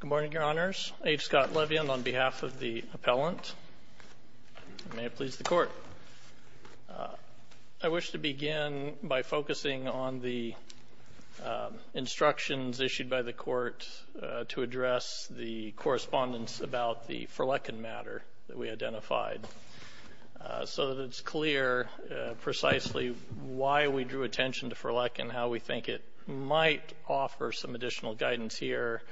Good morning, Your Honors. H. Scott Levien on behalf of the appellant. May it please the Court. I wish to begin by focusing on the instructions issued by the Court to address the correspondence about the Furleckin matter that we identified so that it's clear precisely why we drew attention to Furleckin, and how we think it might offer some additional guidance here,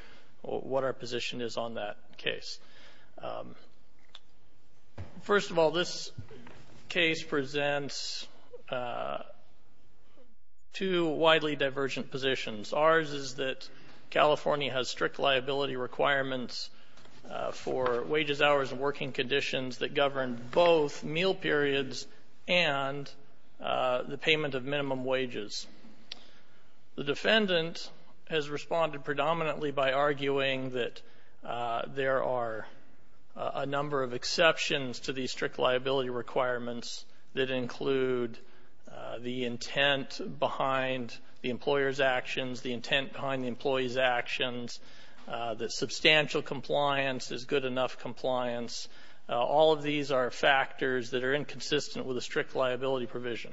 what our position is on that case. First of all, this case presents two widely divergent positions. Ours is that California has strict liability requirements for wages, hours, and working conditions that govern both meal periods and the payment of minimum wages. The defendant has responded predominantly by arguing that there are a number of exceptions to these strict liability requirements that include the intent behind the employer's actions, the intent behind the employee's actions, that substantial compliance is good enough compliance. All of these are factors that are inconsistent with a strict liability provision.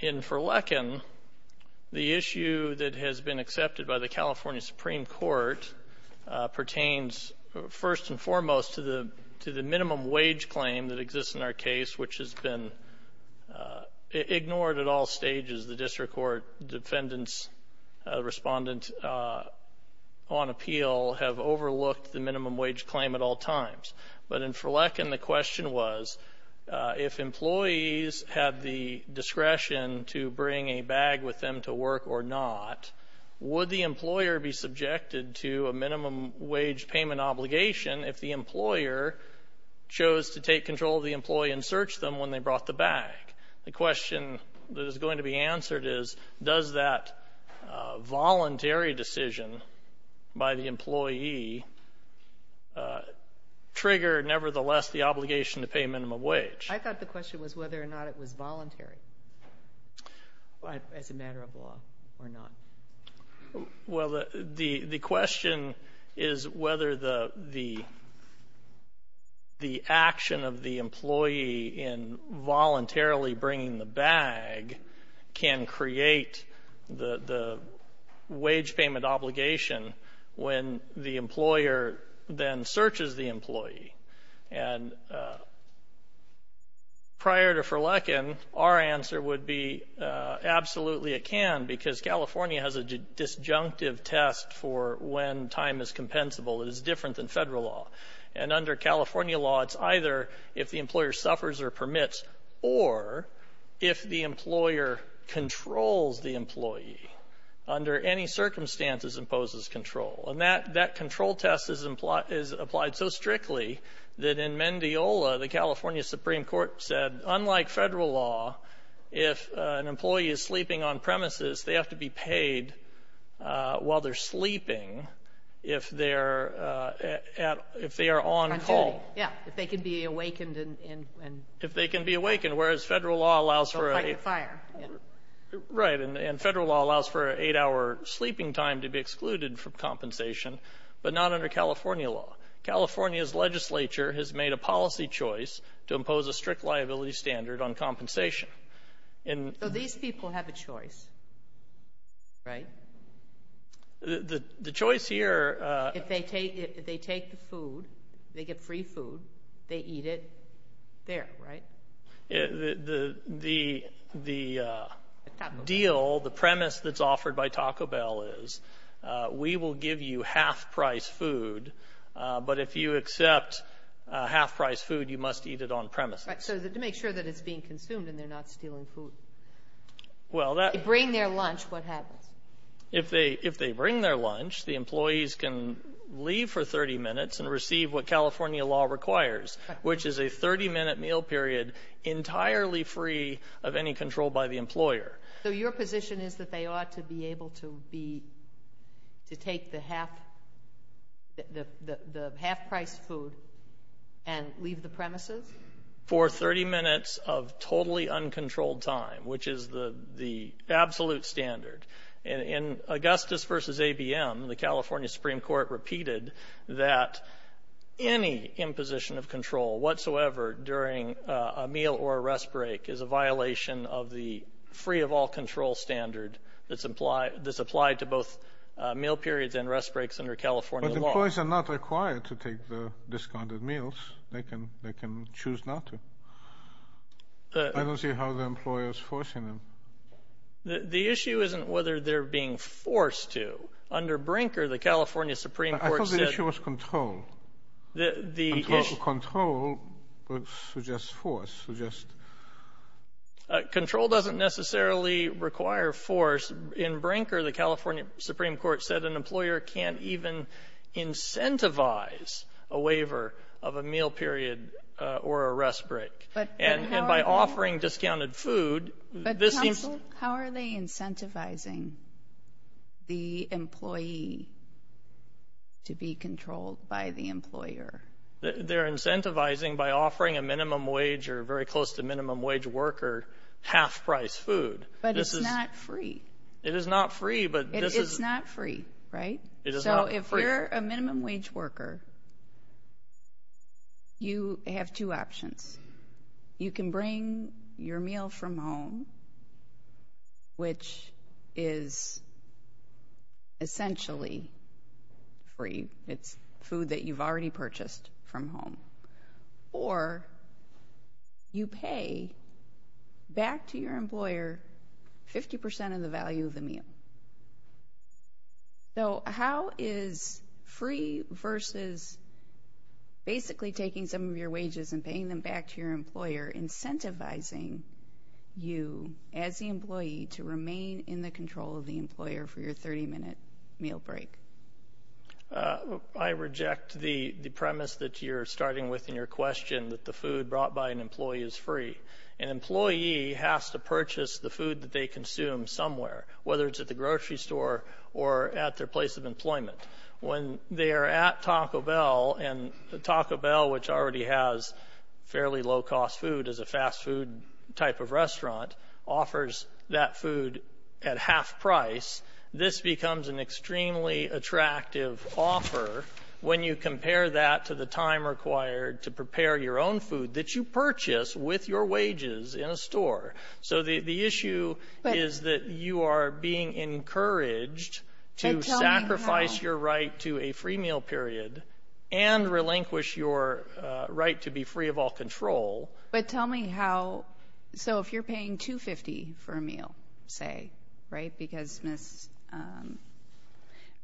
In Furleckin, the issue that has been accepted by the California Supreme Court pertains first and foremost to the minimum wage claim that exists in our case, which has been ignored at all stages. The district court defendants' respondents on appeal have overlooked the minimum wage claim at all times. But in Furleckin, the question was, if employees have the discretion to bring a bag with them to work or not, would the employer be subjected to a minimum wage payment obligation if the employer chose to take control of the employee and search them when they brought the bag? The question that is going to be answered is, does that voluntary decision by the employee trigger, nevertheless, the obligation to pay minimum wage? I thought the question was whether or not it was voluntary as a matter of law or not. Well, the question is whether the action of the employee in voluntarily bringing the bag can create the wage payment obligation when the employer then searches the employee. And prior to Furleckin, our answer would be, absolutely it can, because California has a disjunctive test for when time is compensable. It is different than federal law. And under California law, it's either if the employer suffers or permits or if the employer controls the employee under any circumstances imposes control. And that control test is applied so strictly that in Mendiola, the California Supreme Court said, unlike federal law, if an employee is sleeping on premises, they have to be paid while they're sleeping if they are on call. Yeah, if they can be awakened. If they can be awakened, whereas federal law allows for a... They'll fight the fire. Right, and federal law allows for an eight-hour sleeping time to be excluded from compensation, but not under California law. California's legislature has made a policy choice to impose a strict liability standard on compensation. So these people have a choice, right? The choice here... If they take the food, they get free food, they eat it, there, right? The deal, the premise that's offered by Taco Bell is we will give you half-priced food, but if you accept half-priced food, you must eat it on premises. Right, so to make sure that it's being consumed and they're not stealing food. Well, that... If they bring their lunch, what happens? If they bring their lunch, the employees can leave for 30 minutes and receive what California law requires, which is a 30-minute meal period entirely free of any control by the employer. So your position is that they ought to be able to take the half-priced food and leave the premises? For 30 minutes of totally uncontrolled time, which is the absolute standard. In Augustus v. ABM, the California Supreme Court repeated that any imposition of control whatsoever during a meal or a rest break is a violation of the free-of-all-control standard that's applied to both meal periods and rest breaks under California law. But employees are not required to take the discounted meals. They can choose not to. I don't see how the employer is forcing them. The issue isn't whether they're being forced to. Under Brinker, the California Supreme Court said... I thought the issue was control. The issue... Control suggests force, suggests... Control doesn't necessarily require force. In Brinker, the California Supreme Court said an employer can't even incentivize a waiver of a meal period or a rest break. And by offering discounted food, this seems... But counsel, how are they incentivizing the employee to be controlled by the employer? They're incentivizing by offering a minimum wage or very close to minimum wage worker half-priced food. But it's not free. It is not free, but this is... It's not free, right? It is not free. If you're a minimum wage worker, you have two options. You can bring your meal from home, which is essentially free. It's food that you've already purchased from home. Or you pay back to your employer 50% of the value of the meal. So how is free versus basically taking some of your wages and paying them back to your employer incentivizing you as the employee to remain in the control of the employer for your 30-minute meal break? I reject the premise that you're starting with in your question that the food brought by an employee is free. An employee has to purchase the food that they consume somewhere, whether it's at the grocery store or at their place of employment. When they are at Taco Bell, and Taco Bell, which already has fairly low-cost food as a fast-food type of restaurant, offers that food at half price, this becomes an extremely attractive offer when you compare that to the time required to prepare your own food that you purchase with your wages in a store. So the issue is that you are being encouraged to sacrifice your right to a free meal period and relinquish your right to be free of all control. But tell me how. So if you're paying $2.50 for a meal, say, right? Because Ms.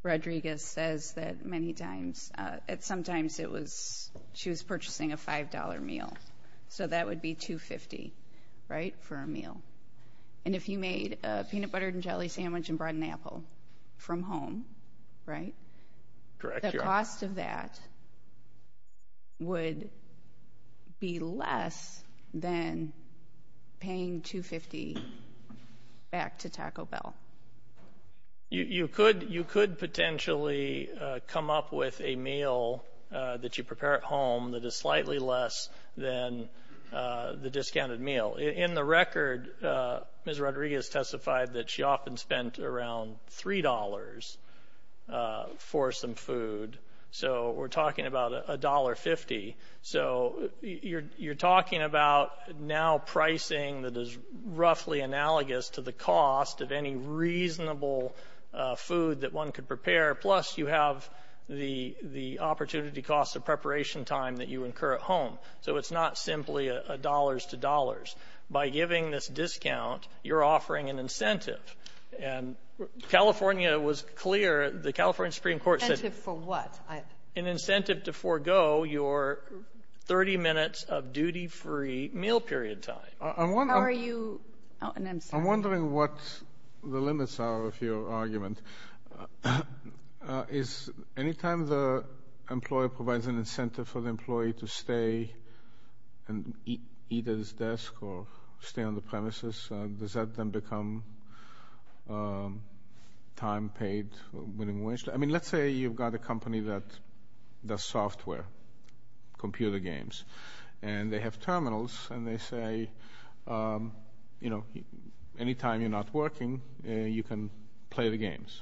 Rodriguez says that many times. Sometimes she was purchasing a $5 meal. So that would be $2.50, right, for a meal. And if you made a peanut butter and jelly sandwich and brought an apple from home, the cost of that would be less than paying $2.50 back to Taco Bell. You could potentially come up with a meal that you prepare at home that is slightly less than the discounted meal. In the record, Ms. Rodriguez testified that she often spent around $3 for some food. So we're talking about $1.50. So you're talking about now pricing that is roughly analogous to the cost of any reasonable food that one could prepare, plus you have the opportunity cost of preparation time that you incur at home. So it's not simply a dollars-to-dollars. By giving this discount, you're offering an incentive. And California was clear. The California Supreme Court said an incentive to forego your 30 minutes of duty-free meal period time. I'm wondering what the limits are of your argument. Anytime the employer provides an incentive for the employee to stay and eat at his desk or stay on the premises, does that then become time paid? I mean, let's say you've got a company that does software, computer games, and they have terminals and they say, you know, anytime you're not working, you can play the games.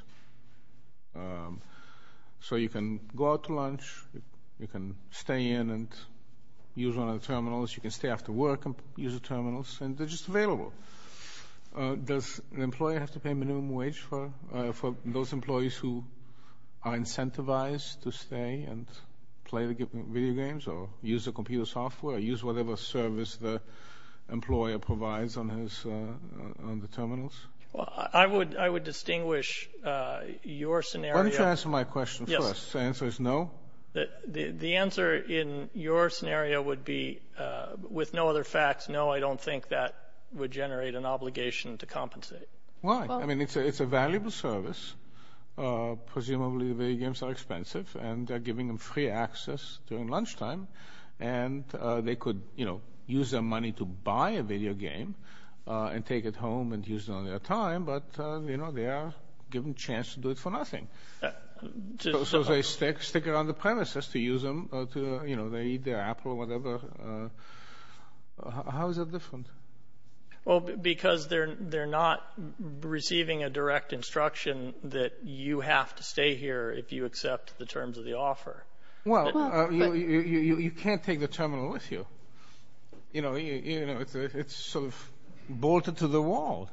So you can go out to lunch, you can stay in and use one of the terminals, you can stay after work and use the terminals, and they're just available. Does an employer have to pay minimum wage for those employees who are incentivized to stay and play the video games or use the computer software, use whatever service the employer provides on the terminals? I would distinguish your scenario. Why don't you answer my question first. The answer is no? The answer in your scenario would be, with no other facts, no, I don't think that would generate an obligation to compensate. Why? I mean, it's a valuable service. Presumably the video games are expensive and they're giving them free access during lunchtime and they could, you know, use their money to buy a video game and take it home and use it on their time, but, you know, they are given a chance to do it for nothing. So they stick it on the premises to use them to, you know, they eat their apple or whatever. How is that different? Well, because they're not receiving a direct instruction that you have to stay here if you accept the terms of the offer. Well, you can't take the terminal with you. You know, it's sort of bolted to the wall.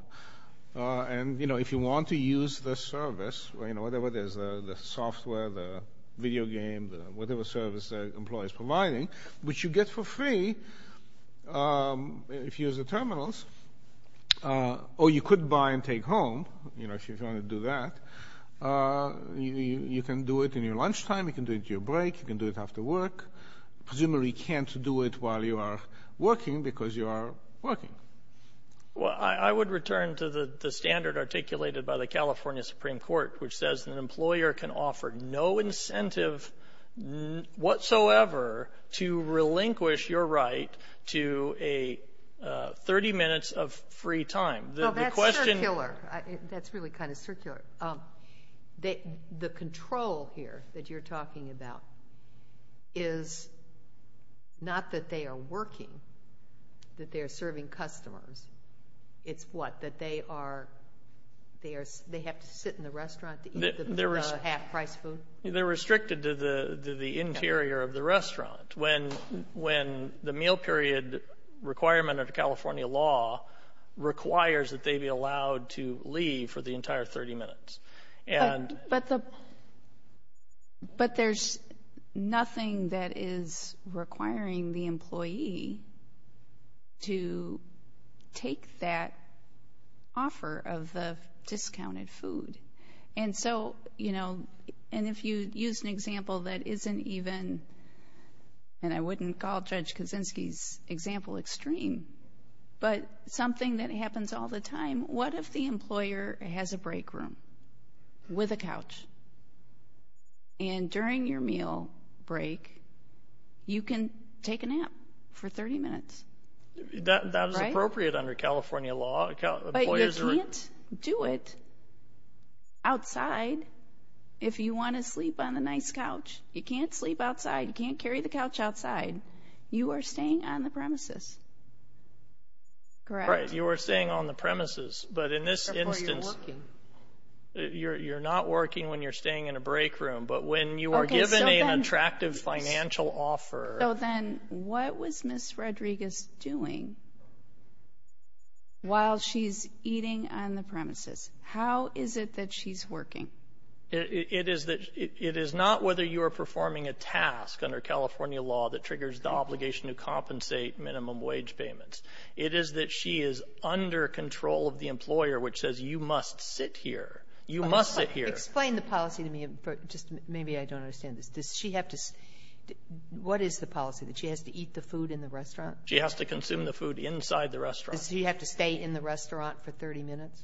And, you know, if you want to use the service, you know, whatever it is, the software, the video game, whatever service the employer is providing, which you get for free if you use the terminals, or you could buy and take home, you know, if you're going to do that. You can do it in your lunchtime. You can do it at your break. You can do it after work. Presumably you can't do it while you are working because you are working. Well, I would return to the standard articulated by the California Supreme Court, which says an employer can offer no incentive whatsoever to relinquish your right to 30 minutes of free time. Well, that's circular. That's really kind of circular. The control here that you're talking about is not that they are working, that they are serving customers. It's what, that they are, they have to sit in the restaurant to eat the half-priced food? They're restricted to the interior of the restaurant. When the meal period requirement of the California law requires that they be allowed to leave for the entire 30 minutes. But there's nothing that is requiring the employee to take that offer of the discounted food. And so, you know, and if you use an example that isn't even, and I wouldn't call Judge Kaczynski's example extreme, but something that happens all the time, what if the employer has a break room with a couch? And during your meal break, you can take a nap for 30 minutes. That is appropriate under California law. But you can't do it outside if you want to sleep on a nice couch. You can't sleep outside. You can't carry the couch outside. You are staying on the premises, correct? Right, you are staying on the premises. But in this instance, you're not working when you're staying in a break room. But when you are given an attractive financial offer. So then what was Ms. Rodriguez doing while she's eating on the premises? How is it that she's working? It is that it is not whether you are performing a task under California law that triggers the obligation to compensate minimum wage payments. It is that she is under control of the employer, which says you must sit here. You must sit here. Explain the policy to me. Just maybe I don't understand this. Does she have to what is the policy that she has to eat the food in the restaurant? She has to consume the food inside the restaurant. Does she have to stay in the restaurant for 30 minutes?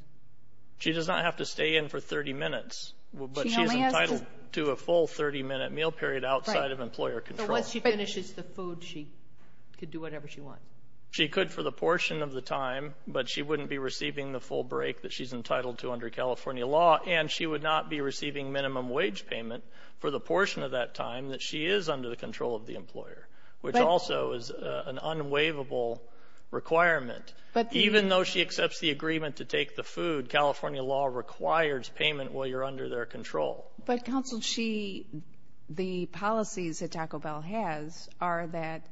She does not have to stay in for 30 minutes. But she is entitled to a full 30-minute meal period outside of employer control. But once she finishes the food, she could do whatever she wants. She could for the portion of the time, but she wouldn't be receiving the full break that she's entitled to under California law. And she would not be receiving minimum wage payment for the portion of that time that she is under the control of the employer, which also is an unwaivable requirement. Even though she accepts the agreement to take the food, California law requires payment while you're under their control. But, counsel, the policies that Taco Bell has are that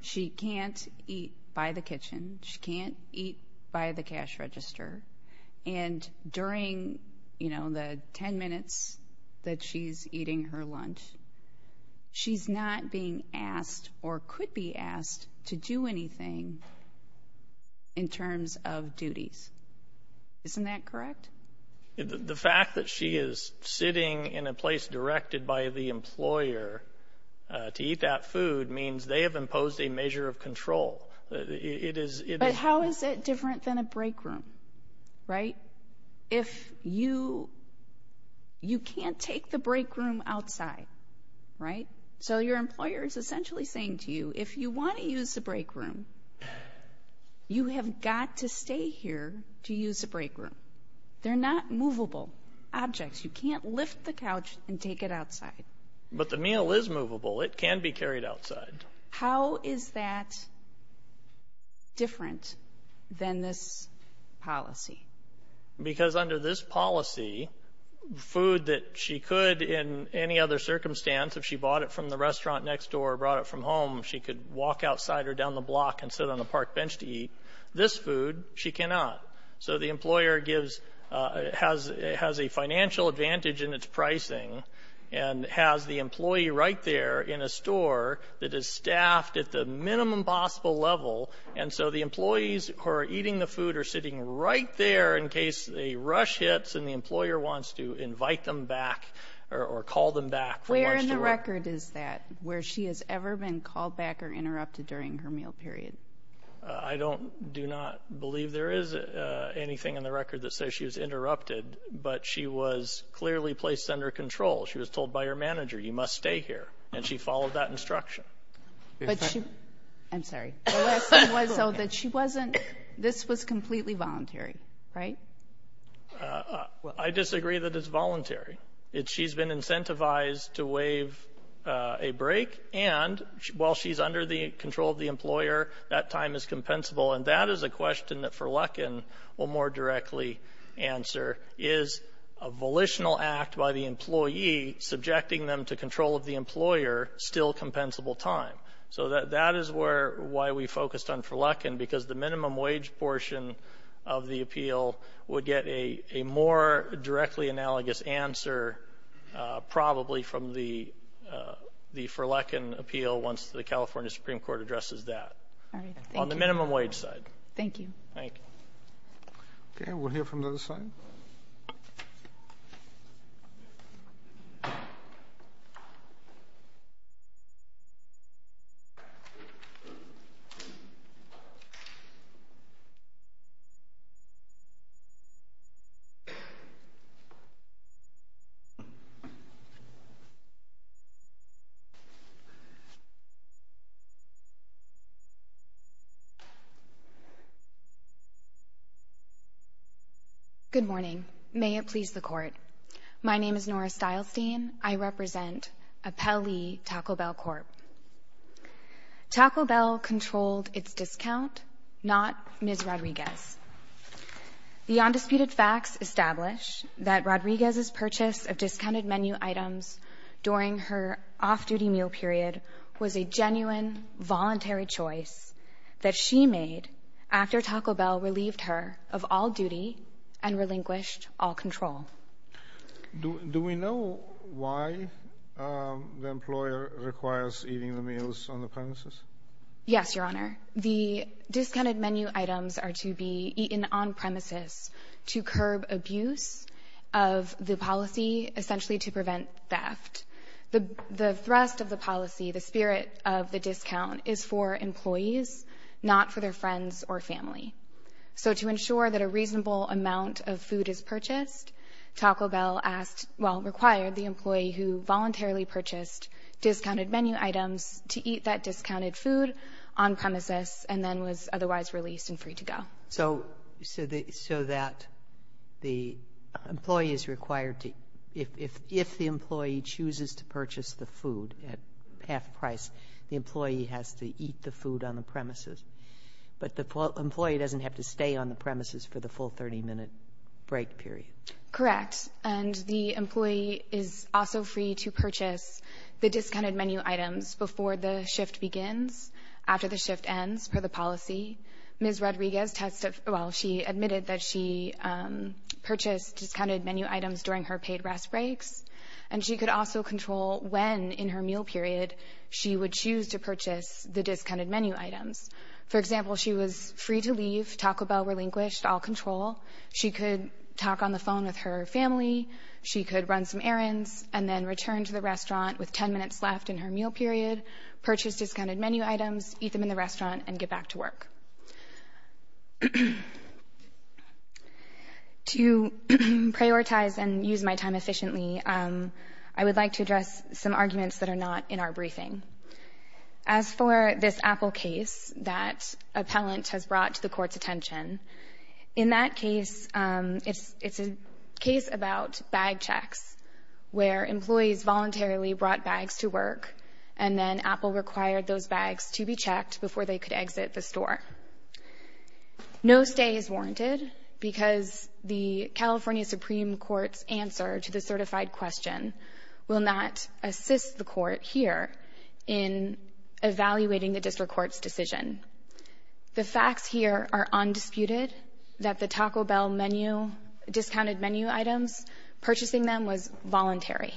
she can't eat by the kitchen. She can't eat by the cash register. And during, you know, the 10 minutes that she's eating her lunch, she's not being asked or could be asked to do anything in terms of duties. Isn't that correct? The fact that she is sitting in a place directed by the employer to eat that food means they have imposed a measure of control. But how is it different than a break room, right? If you can't take the break room outside, right? So your employer is essentially saying to you, if you want to use the break room, you have got to stay here to use the break room. They're not movable objects. You can't lift the couch and take it outside. But the meal is movable. It can be carried outside. How is that different than this policy? Because under this policy, food that she could in any other circumstance, if she bought it from the restaurant next door or brought it from home, she could walk outside or down the block and sit on the park bench to eat. This food, she cannot. So the employer has a financial advantage in its pricing and has the employee right there in a store that is staffed at the minimum possible level. And so the employees who are eating the food are sitting right there in case a rush hits and the employer wants to invite them back or call them back. Where in the record is that, where she has ever been called back or interrupted during her meal period? I do not believe there is anything in the record that says she was interrupted. But she was clearly placed under control. She was told by her manager, you must stay here. And she followed that instruction. I'm sorry. So this was completely voluntary, right? I disagree that it's voluntary. She's been incentivized to waive a break. And while she's under the control of the employer, that time is compensable. And that is a question that Furlecken will more directly answer. Is a volitional act by the employee subjecting them to control of the employer still compensable time? So that is why we focused on Furlecken, because the minimum wage portion of the appeal would get a more directly analogous answer, probably, from the Furlecken appeal once the California Supreme Court addresses that. On the minimum wage side. Thank you. Thank you. Okay. Thank you. Good morning. May it please the Court. My name is Nora Stylestein. I represent Appellee Taco Bell Corp. Taco Bell controlled its discount, not Ms. Rodriguez. The undisputed facts establish that Rodriguez's purchase of discounted menu items during her off-duty meal period was a genuine, voluntary choice that she made after Taco Bell relieved her of all duty and relinquished all control. Do we know why the employer requires eating the meals on the premises? Yes, Your Honor. The discounted menu items are to be eaten on premises to curb abuse of the policy, essentially to prevent theft. The thrust of the policy, the spirit of the discount, is for employees, not for their friends or family. So to ensure that a reasonable amount of food is purchased, Taco Bell asked, well, required the employee who voluntarily purchased discounted menu items to eat that discounted food on premises and then was otherwise released and free to go. So that the employee is required to, if the employee chooses to purchase the food at half price, the employee has to eat the food on the premises, but the employee doesn't have to stay on the premises for the full 30-minute break period? Correct. And the employee is also free to purchase the discounted menu items before the shift begins, after the shift ends, per the policy. Ms. Rodriguez admitted that she purchased discounted menu items during her paid rest breaks, and she could also control when in her meal period she would choose to purchase the discounted menu items. For example, she was free to leave, Taco Bell relinquished all control. She could talk on the phone with her family. She could run some errands and then return to the restaurant with 10 minutes left in her meal period, purchase discounted menu items, eat them in the restaurant, and get back to work. To prioritize and use my time efficiently, I would like to address some arguments that are not in our briefing. As for this Apple case that appellant has brought to the Court's attention, in that case, it's a case about bag checks, where employees voluntarily brought bags to work, and then Apple required those bags to be checked before they could exit the store. No stay is warranted because the California Supreme Court's answer to the certified question will not assist the Court here in evaluating the district court's decision. The facts here are undisputed, that the Taco Bell menu, discounted menu items, purchasing them was voluntary.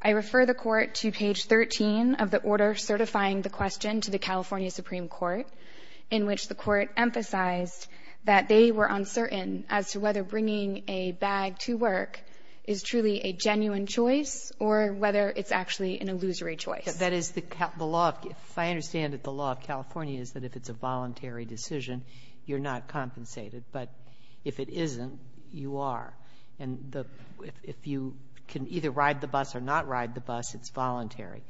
I refer the Court to page 13 of the order certifying the question to the California Supreme Court, in which the Court emphasized that they were uncertain as to whether bringing a bag to work is truly a genuine choice or whether it's actually an illusory choice. That is the law. If I understand it, the law of California is that if it's a voluntary decision, you're not compensated. But if it isn't, you are. And if you can either ride the bus or not ride the bus, it's voluntary.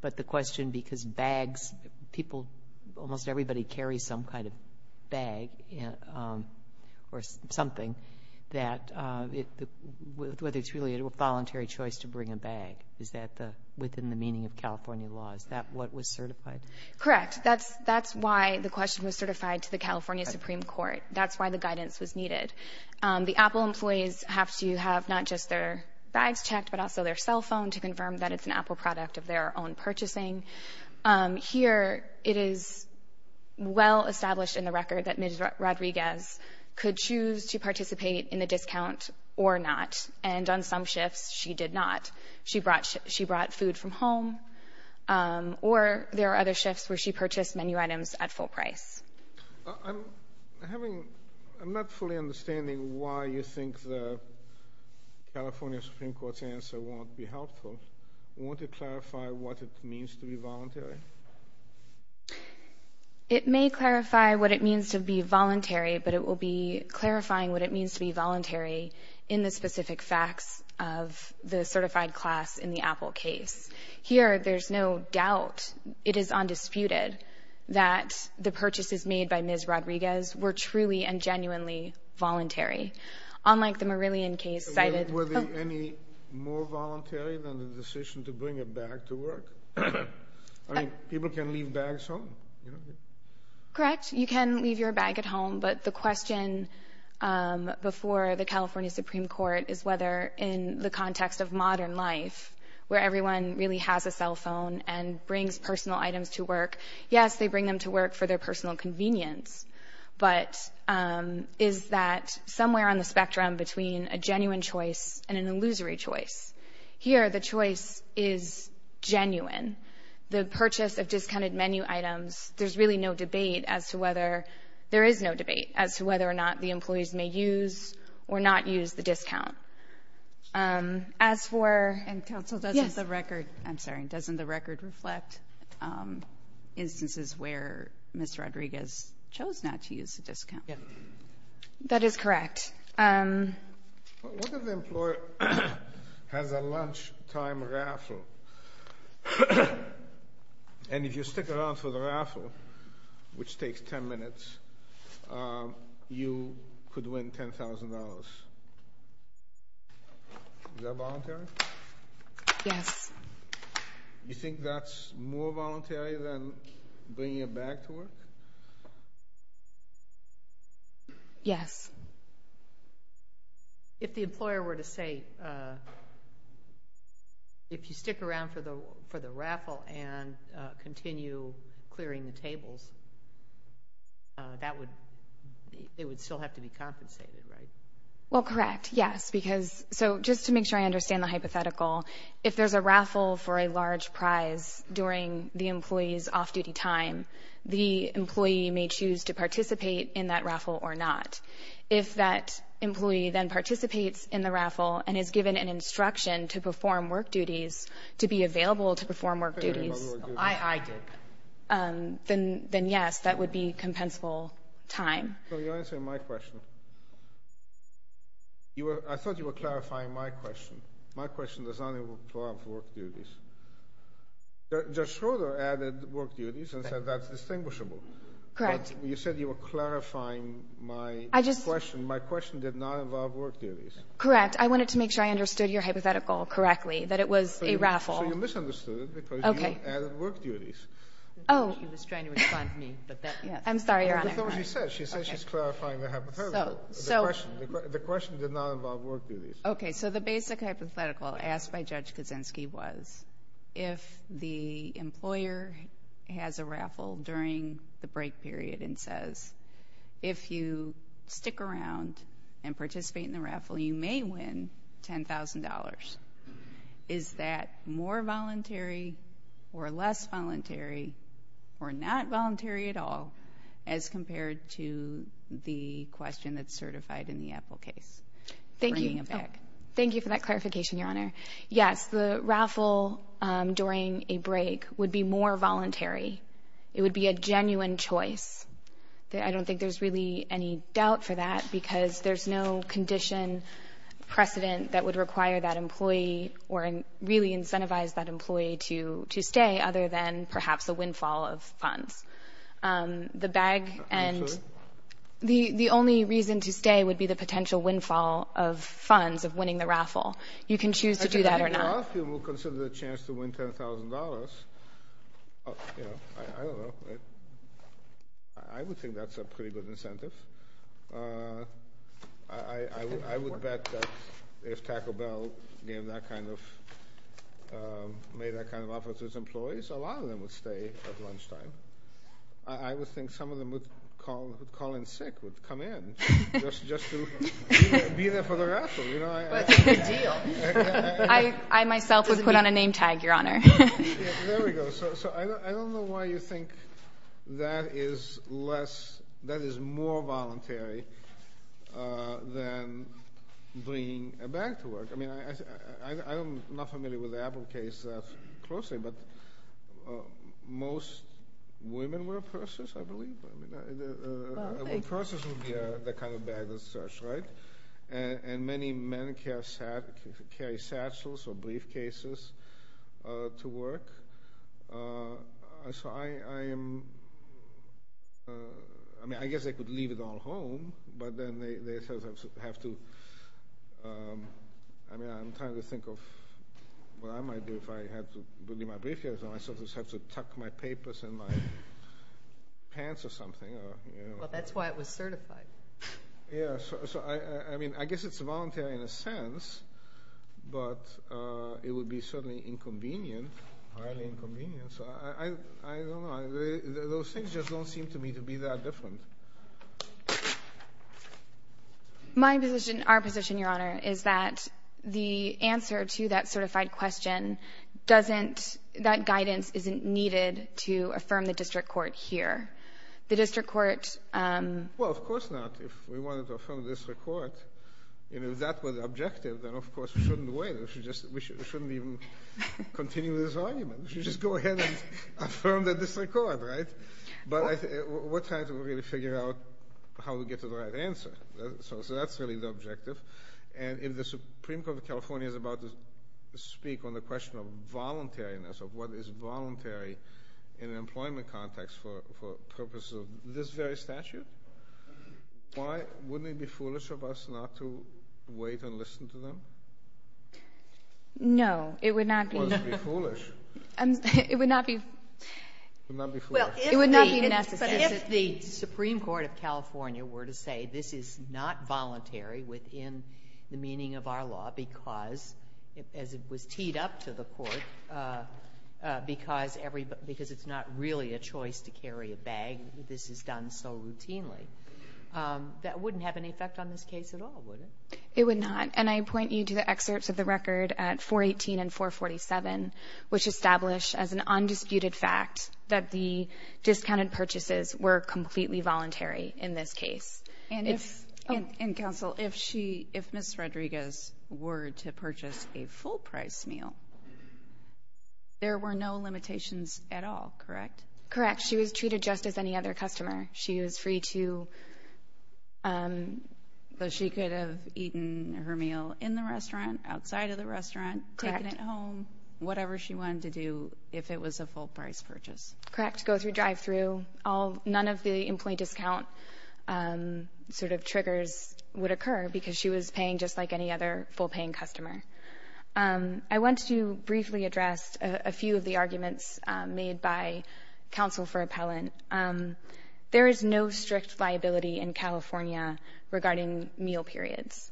But the question, because bags, people, almost everybody carries some kind of bag or something, whether it's really a voluntary choice to bring a bag, is that within the meaning of California law? Is that what was certified? Correct. That's why the question was certified to the California Supreme Court. That's why the guidance was needed. The Apple employees have to have not just their bags checked, but also their cell phone to confirm that it's an Apple product of their own purchasing. Here it is well established in the record that Ms. Rodriguez could choose to participate in the discount or not, and on some shifts she did not. She brought food from home. Or there are other shifts where she purchased menu items at full price. I'm not fully understanding why you think the California Supreme Court's answer won't be helpful. Won't it clarify what it means to be voluntary? It may clarify what it means to be voluntary, but it will be clarifying what it means to be voluntary in the specific facts of the certified class in the Apple case. Here there's no doubt, it is undisputed, that the purchases made by Ms. Rodriguez were truly and genuinely voluntary. Unlike the Marillion case cited. Were they any more voluntary than the decision to bring a bag to work? I mean, people can leave bags home. Correct. You can leave your bag at home, but the question before the California Supreme Court is whether in the context of modern life where everyone really has a cell phone and brings personal items to work, yes, they bring them to work for their personal convenience, but is that somewhere on the spectrum between a genuine choice and an illusory choice? Here the choice is genuine. The purchase of discounted menu items, there's really no debate as to whether, there is no debate as to whether or not the employees may use or not use the discount. As for the record, I'm sorry, doesn't the record reflect instances where Ms. Rodriguez chose not to use the discount? Yes. That is correct. What if the employer has a lunchtime raffle? And if you stick around for the raffle, which takes 10 minutes, you could win $10,000. Is that voluntary? Yes. You think that's more voluntary than bringing a bag to work? Yes. If the employer were to say, if you stick around for the raffle and continue clearing the tables, that would, it would still have to be compensated, right? Well, correct, yes, because, so just to make sure I understand the hypothetical, if there's a raffle for a large prize during the employee's off-duty time, the employee may choose to participate in that raffle or not. If that employee then participates in the raffle and is given an instruction to perform work duties, to be available to perform work duties, then yes, that would be compensable time. So you're answering my question. I thought you were clarifying my question. My question does not involve work duties. Judge Schroeder added work duties and said that's distinguishable. Correct. But you said you were clarifying my question. My question did not involve work duties. Correct. I wanted to make sure I understood your hypothetical correctly, that it was a raffle. So you misunderstood it because you added work duties. Oh. She was trying to respond to me. I'm sorry, Your Honor. She said she's clarifying the hypothetical, the question. The question did not involve work duties. Okay. So the basic hypothetical asked by Judge Kaczynski was, if the employer has a raffle during the break period and says, if you stick around and participate in the raffle, you may win $10,000. Is that more voluntary or less voluntary or not voluntary at all as compared to the question that's certified in the Apple case? Thank you. Thank you for that clarification, Your Honor. Yes, the raffle during a break would be more voluntary. It would be a genuine choice. I don't think there's really any doubt for that because there's no condition precedent that would require that employee or really incentivize that employee to stay other than perhaps a windfall of funds. I'm sorry? The only reason to stay would be the potential windfall of funds of winning the raffle. You can choose to do that or not. If Matthew will consider the chance to win $10,000, I don't know. I would think that's a pretty good incentive. I would bet that if Taco Bell made that kind of offer to its employees, a lot of them would stay at lunchtime. I would think some of them would call in sick, would come in just to be there for the raffle. That's a good deal. I myself would put on a name tag, Your Honor. There we go. I don't know why you think that is more voluntary than bringing a bag to work. I'm not familiar with the Apple case closely, but most women wear purses, I believe. Purses would be the kind of bag that's searched, right? And many men carry satchels or briefcases to work. I mean, I guess they could leave it all home, but then they have to. I mean, I'm trying to think of what I might do if I had to bring my briefcase home. I'd have to tuck my papers in my pants or something. Well, that's why it was certified. Yes. I mean, I guess it's voluntary in a sense, but it would be certainly inconvenient, highly inconvenient. So I don't know. Those things just don't seem to me to be that different. My position, our position, Your Honor, is that the answer to that certified question doesn't, that guidance isn't needed to affirm the district court here. The district court Well, of course not. If we wanted to affirm the district court, if that were the objective, then of course we shouldn't wait. We shouldn't even continue this argument. We should just go ahead and affirm the district court, right? But we're trying to really figure out how we get to the right answer. So that's really the objective. And if the Supreme Court of California is about to speak on the question of voluntariness, of what is voluntary in an employment context for purposes of this very statute, why, wouldn't it be foolish of us not to wait and listen to them? No, it would not be. Well, it would be foolish. It would not be. It would not be foolish. It would not be necessary. But if the Supreme Court of California were to say this is not voluntary within the meaning of our law because, as it was teed up to the court, because it's not really a choice to carry a bag, this is done so routinely, that wouldn't have any effect on this case at all, would it? It would not. And I point you to the excerpts of the record at 418 and 447, which establish as an undisputed fact that the discounted purchases were completely voluntary in this case. And, Counsel, if Ms. Rodriguez were to purchase a full-price meal, there were no limitations at all, correct? Correct. She was treated just as any other customer. She was free to, she could have eaten her meal in the restaurant, outside of the restaurant, taken it home, whatever she wanted to do if it was a full-price purchase. Correct. She didn't have to go through drive-through. None of the employee discount sort of triggers would occur because she was paying just like any other full-paying customer. I want to briefly address a few of the arguments made by Counsel for Appellant. There is no strict liability in California regarding meal periods.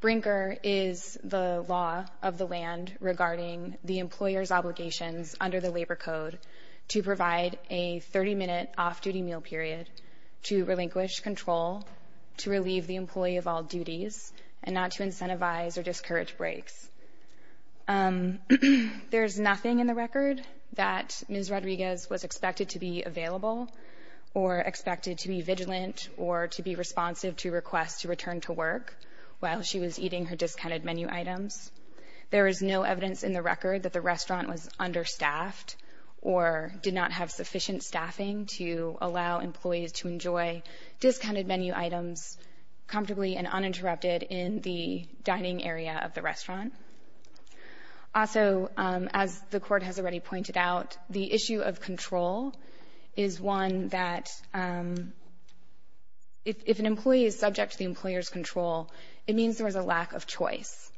Brinker is the law of the land regarding the employer's obligations under the Labor Code to provide a 30-minute off-duty meal period to relinquish control, to relieve the employee of all duties, and not to incentivize or discourage breaks. There is nothing in the record that Ms. Rodriguez was expected to be available or expected to be vigilant or to be responsive to requests to return to work while she was eating her discounted menu items. There is no evidence in the record that the restaurant was understaffed or did not have sufficient staffing to allow employees to enjoy discounted menu items comfortably and uninterrupted in the dining area of the restaurant. Also, as the Court has already pointed out, the issue of control is one that if an employee is subject to the employer's control, it means there was a lack of choice.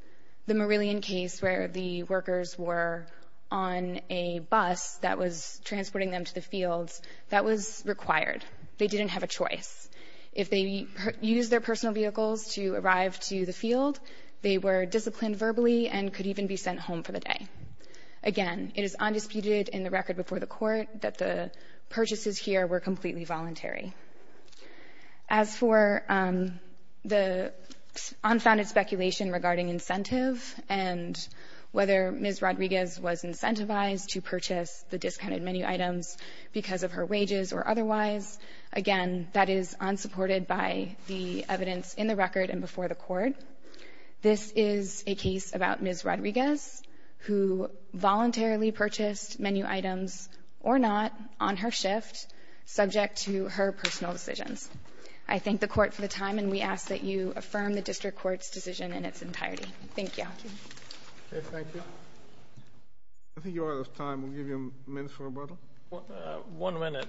The Marillion case where the workers were on a bus that was transporting them to the fields, that was required. They didn't have a choice. If they used their personal vehicles to arrive to the field, they were disciplined verbally and could even be sent home for the day. Again, it is undisputed in the record before the Court that the purchases here were completely voluntary. As for the unfounded speculation regarding incentive and whether Ms. Rodriguez was incentivized to purchase the discounted menu items because of her wages or otherwise, again, that is unsupported by the evidence in the record and before the Court. This is a case about Ms. Rodriguez who voluntarily purchased menu items or not on her shift, subject to her personal decisions. I thank the Court for the time, and we ask that you affirm the district court's decision in its entirety. Thank you. Thank you. I think you're out of time. We'll give you a minute for rebuttal. One minute,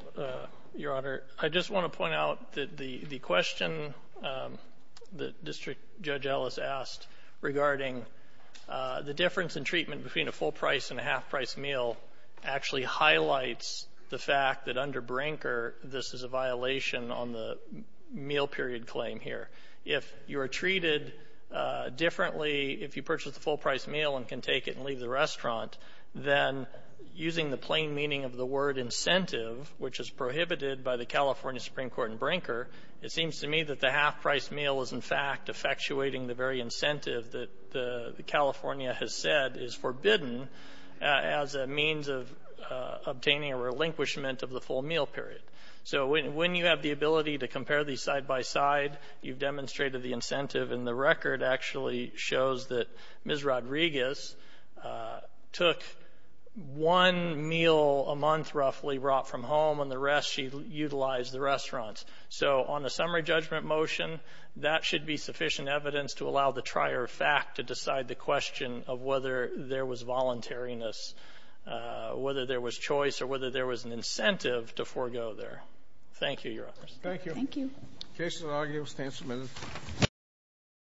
Your Honor. I just want to point out that the question that District Judge Ellis asked regarding the difference in treatment between a full-price and a half-price meal actually highlights the fact that under Brinker, this is a violation on the meal period claim here. If you are treated differently, if you purchase the full-price meal and can take it and leave the restaurant, then using the plain meaning of the word incentive, which is prohibited by the California Supreme Court in Brinker, it seems to me that the half-price meal is, in fact, effectuating the very incentive that California has said is forbidden as a means of obtaining a relinquishment of the full meal period. So when you have the ability to compare these side by side, you've demonstrated the incentive, and the record actually shows that Ms. Rodriguez took one meal a month roughly brought from home, and the rest she utilized the restaurants. So on a summary judgment motion, that should be sufficient evidence to allow the trier of fact to decide the question of whether there was voluntariness, whether there was choice, or whether there was an incentive to forego there. Thank you, Your Honors. Thank you. Thank you.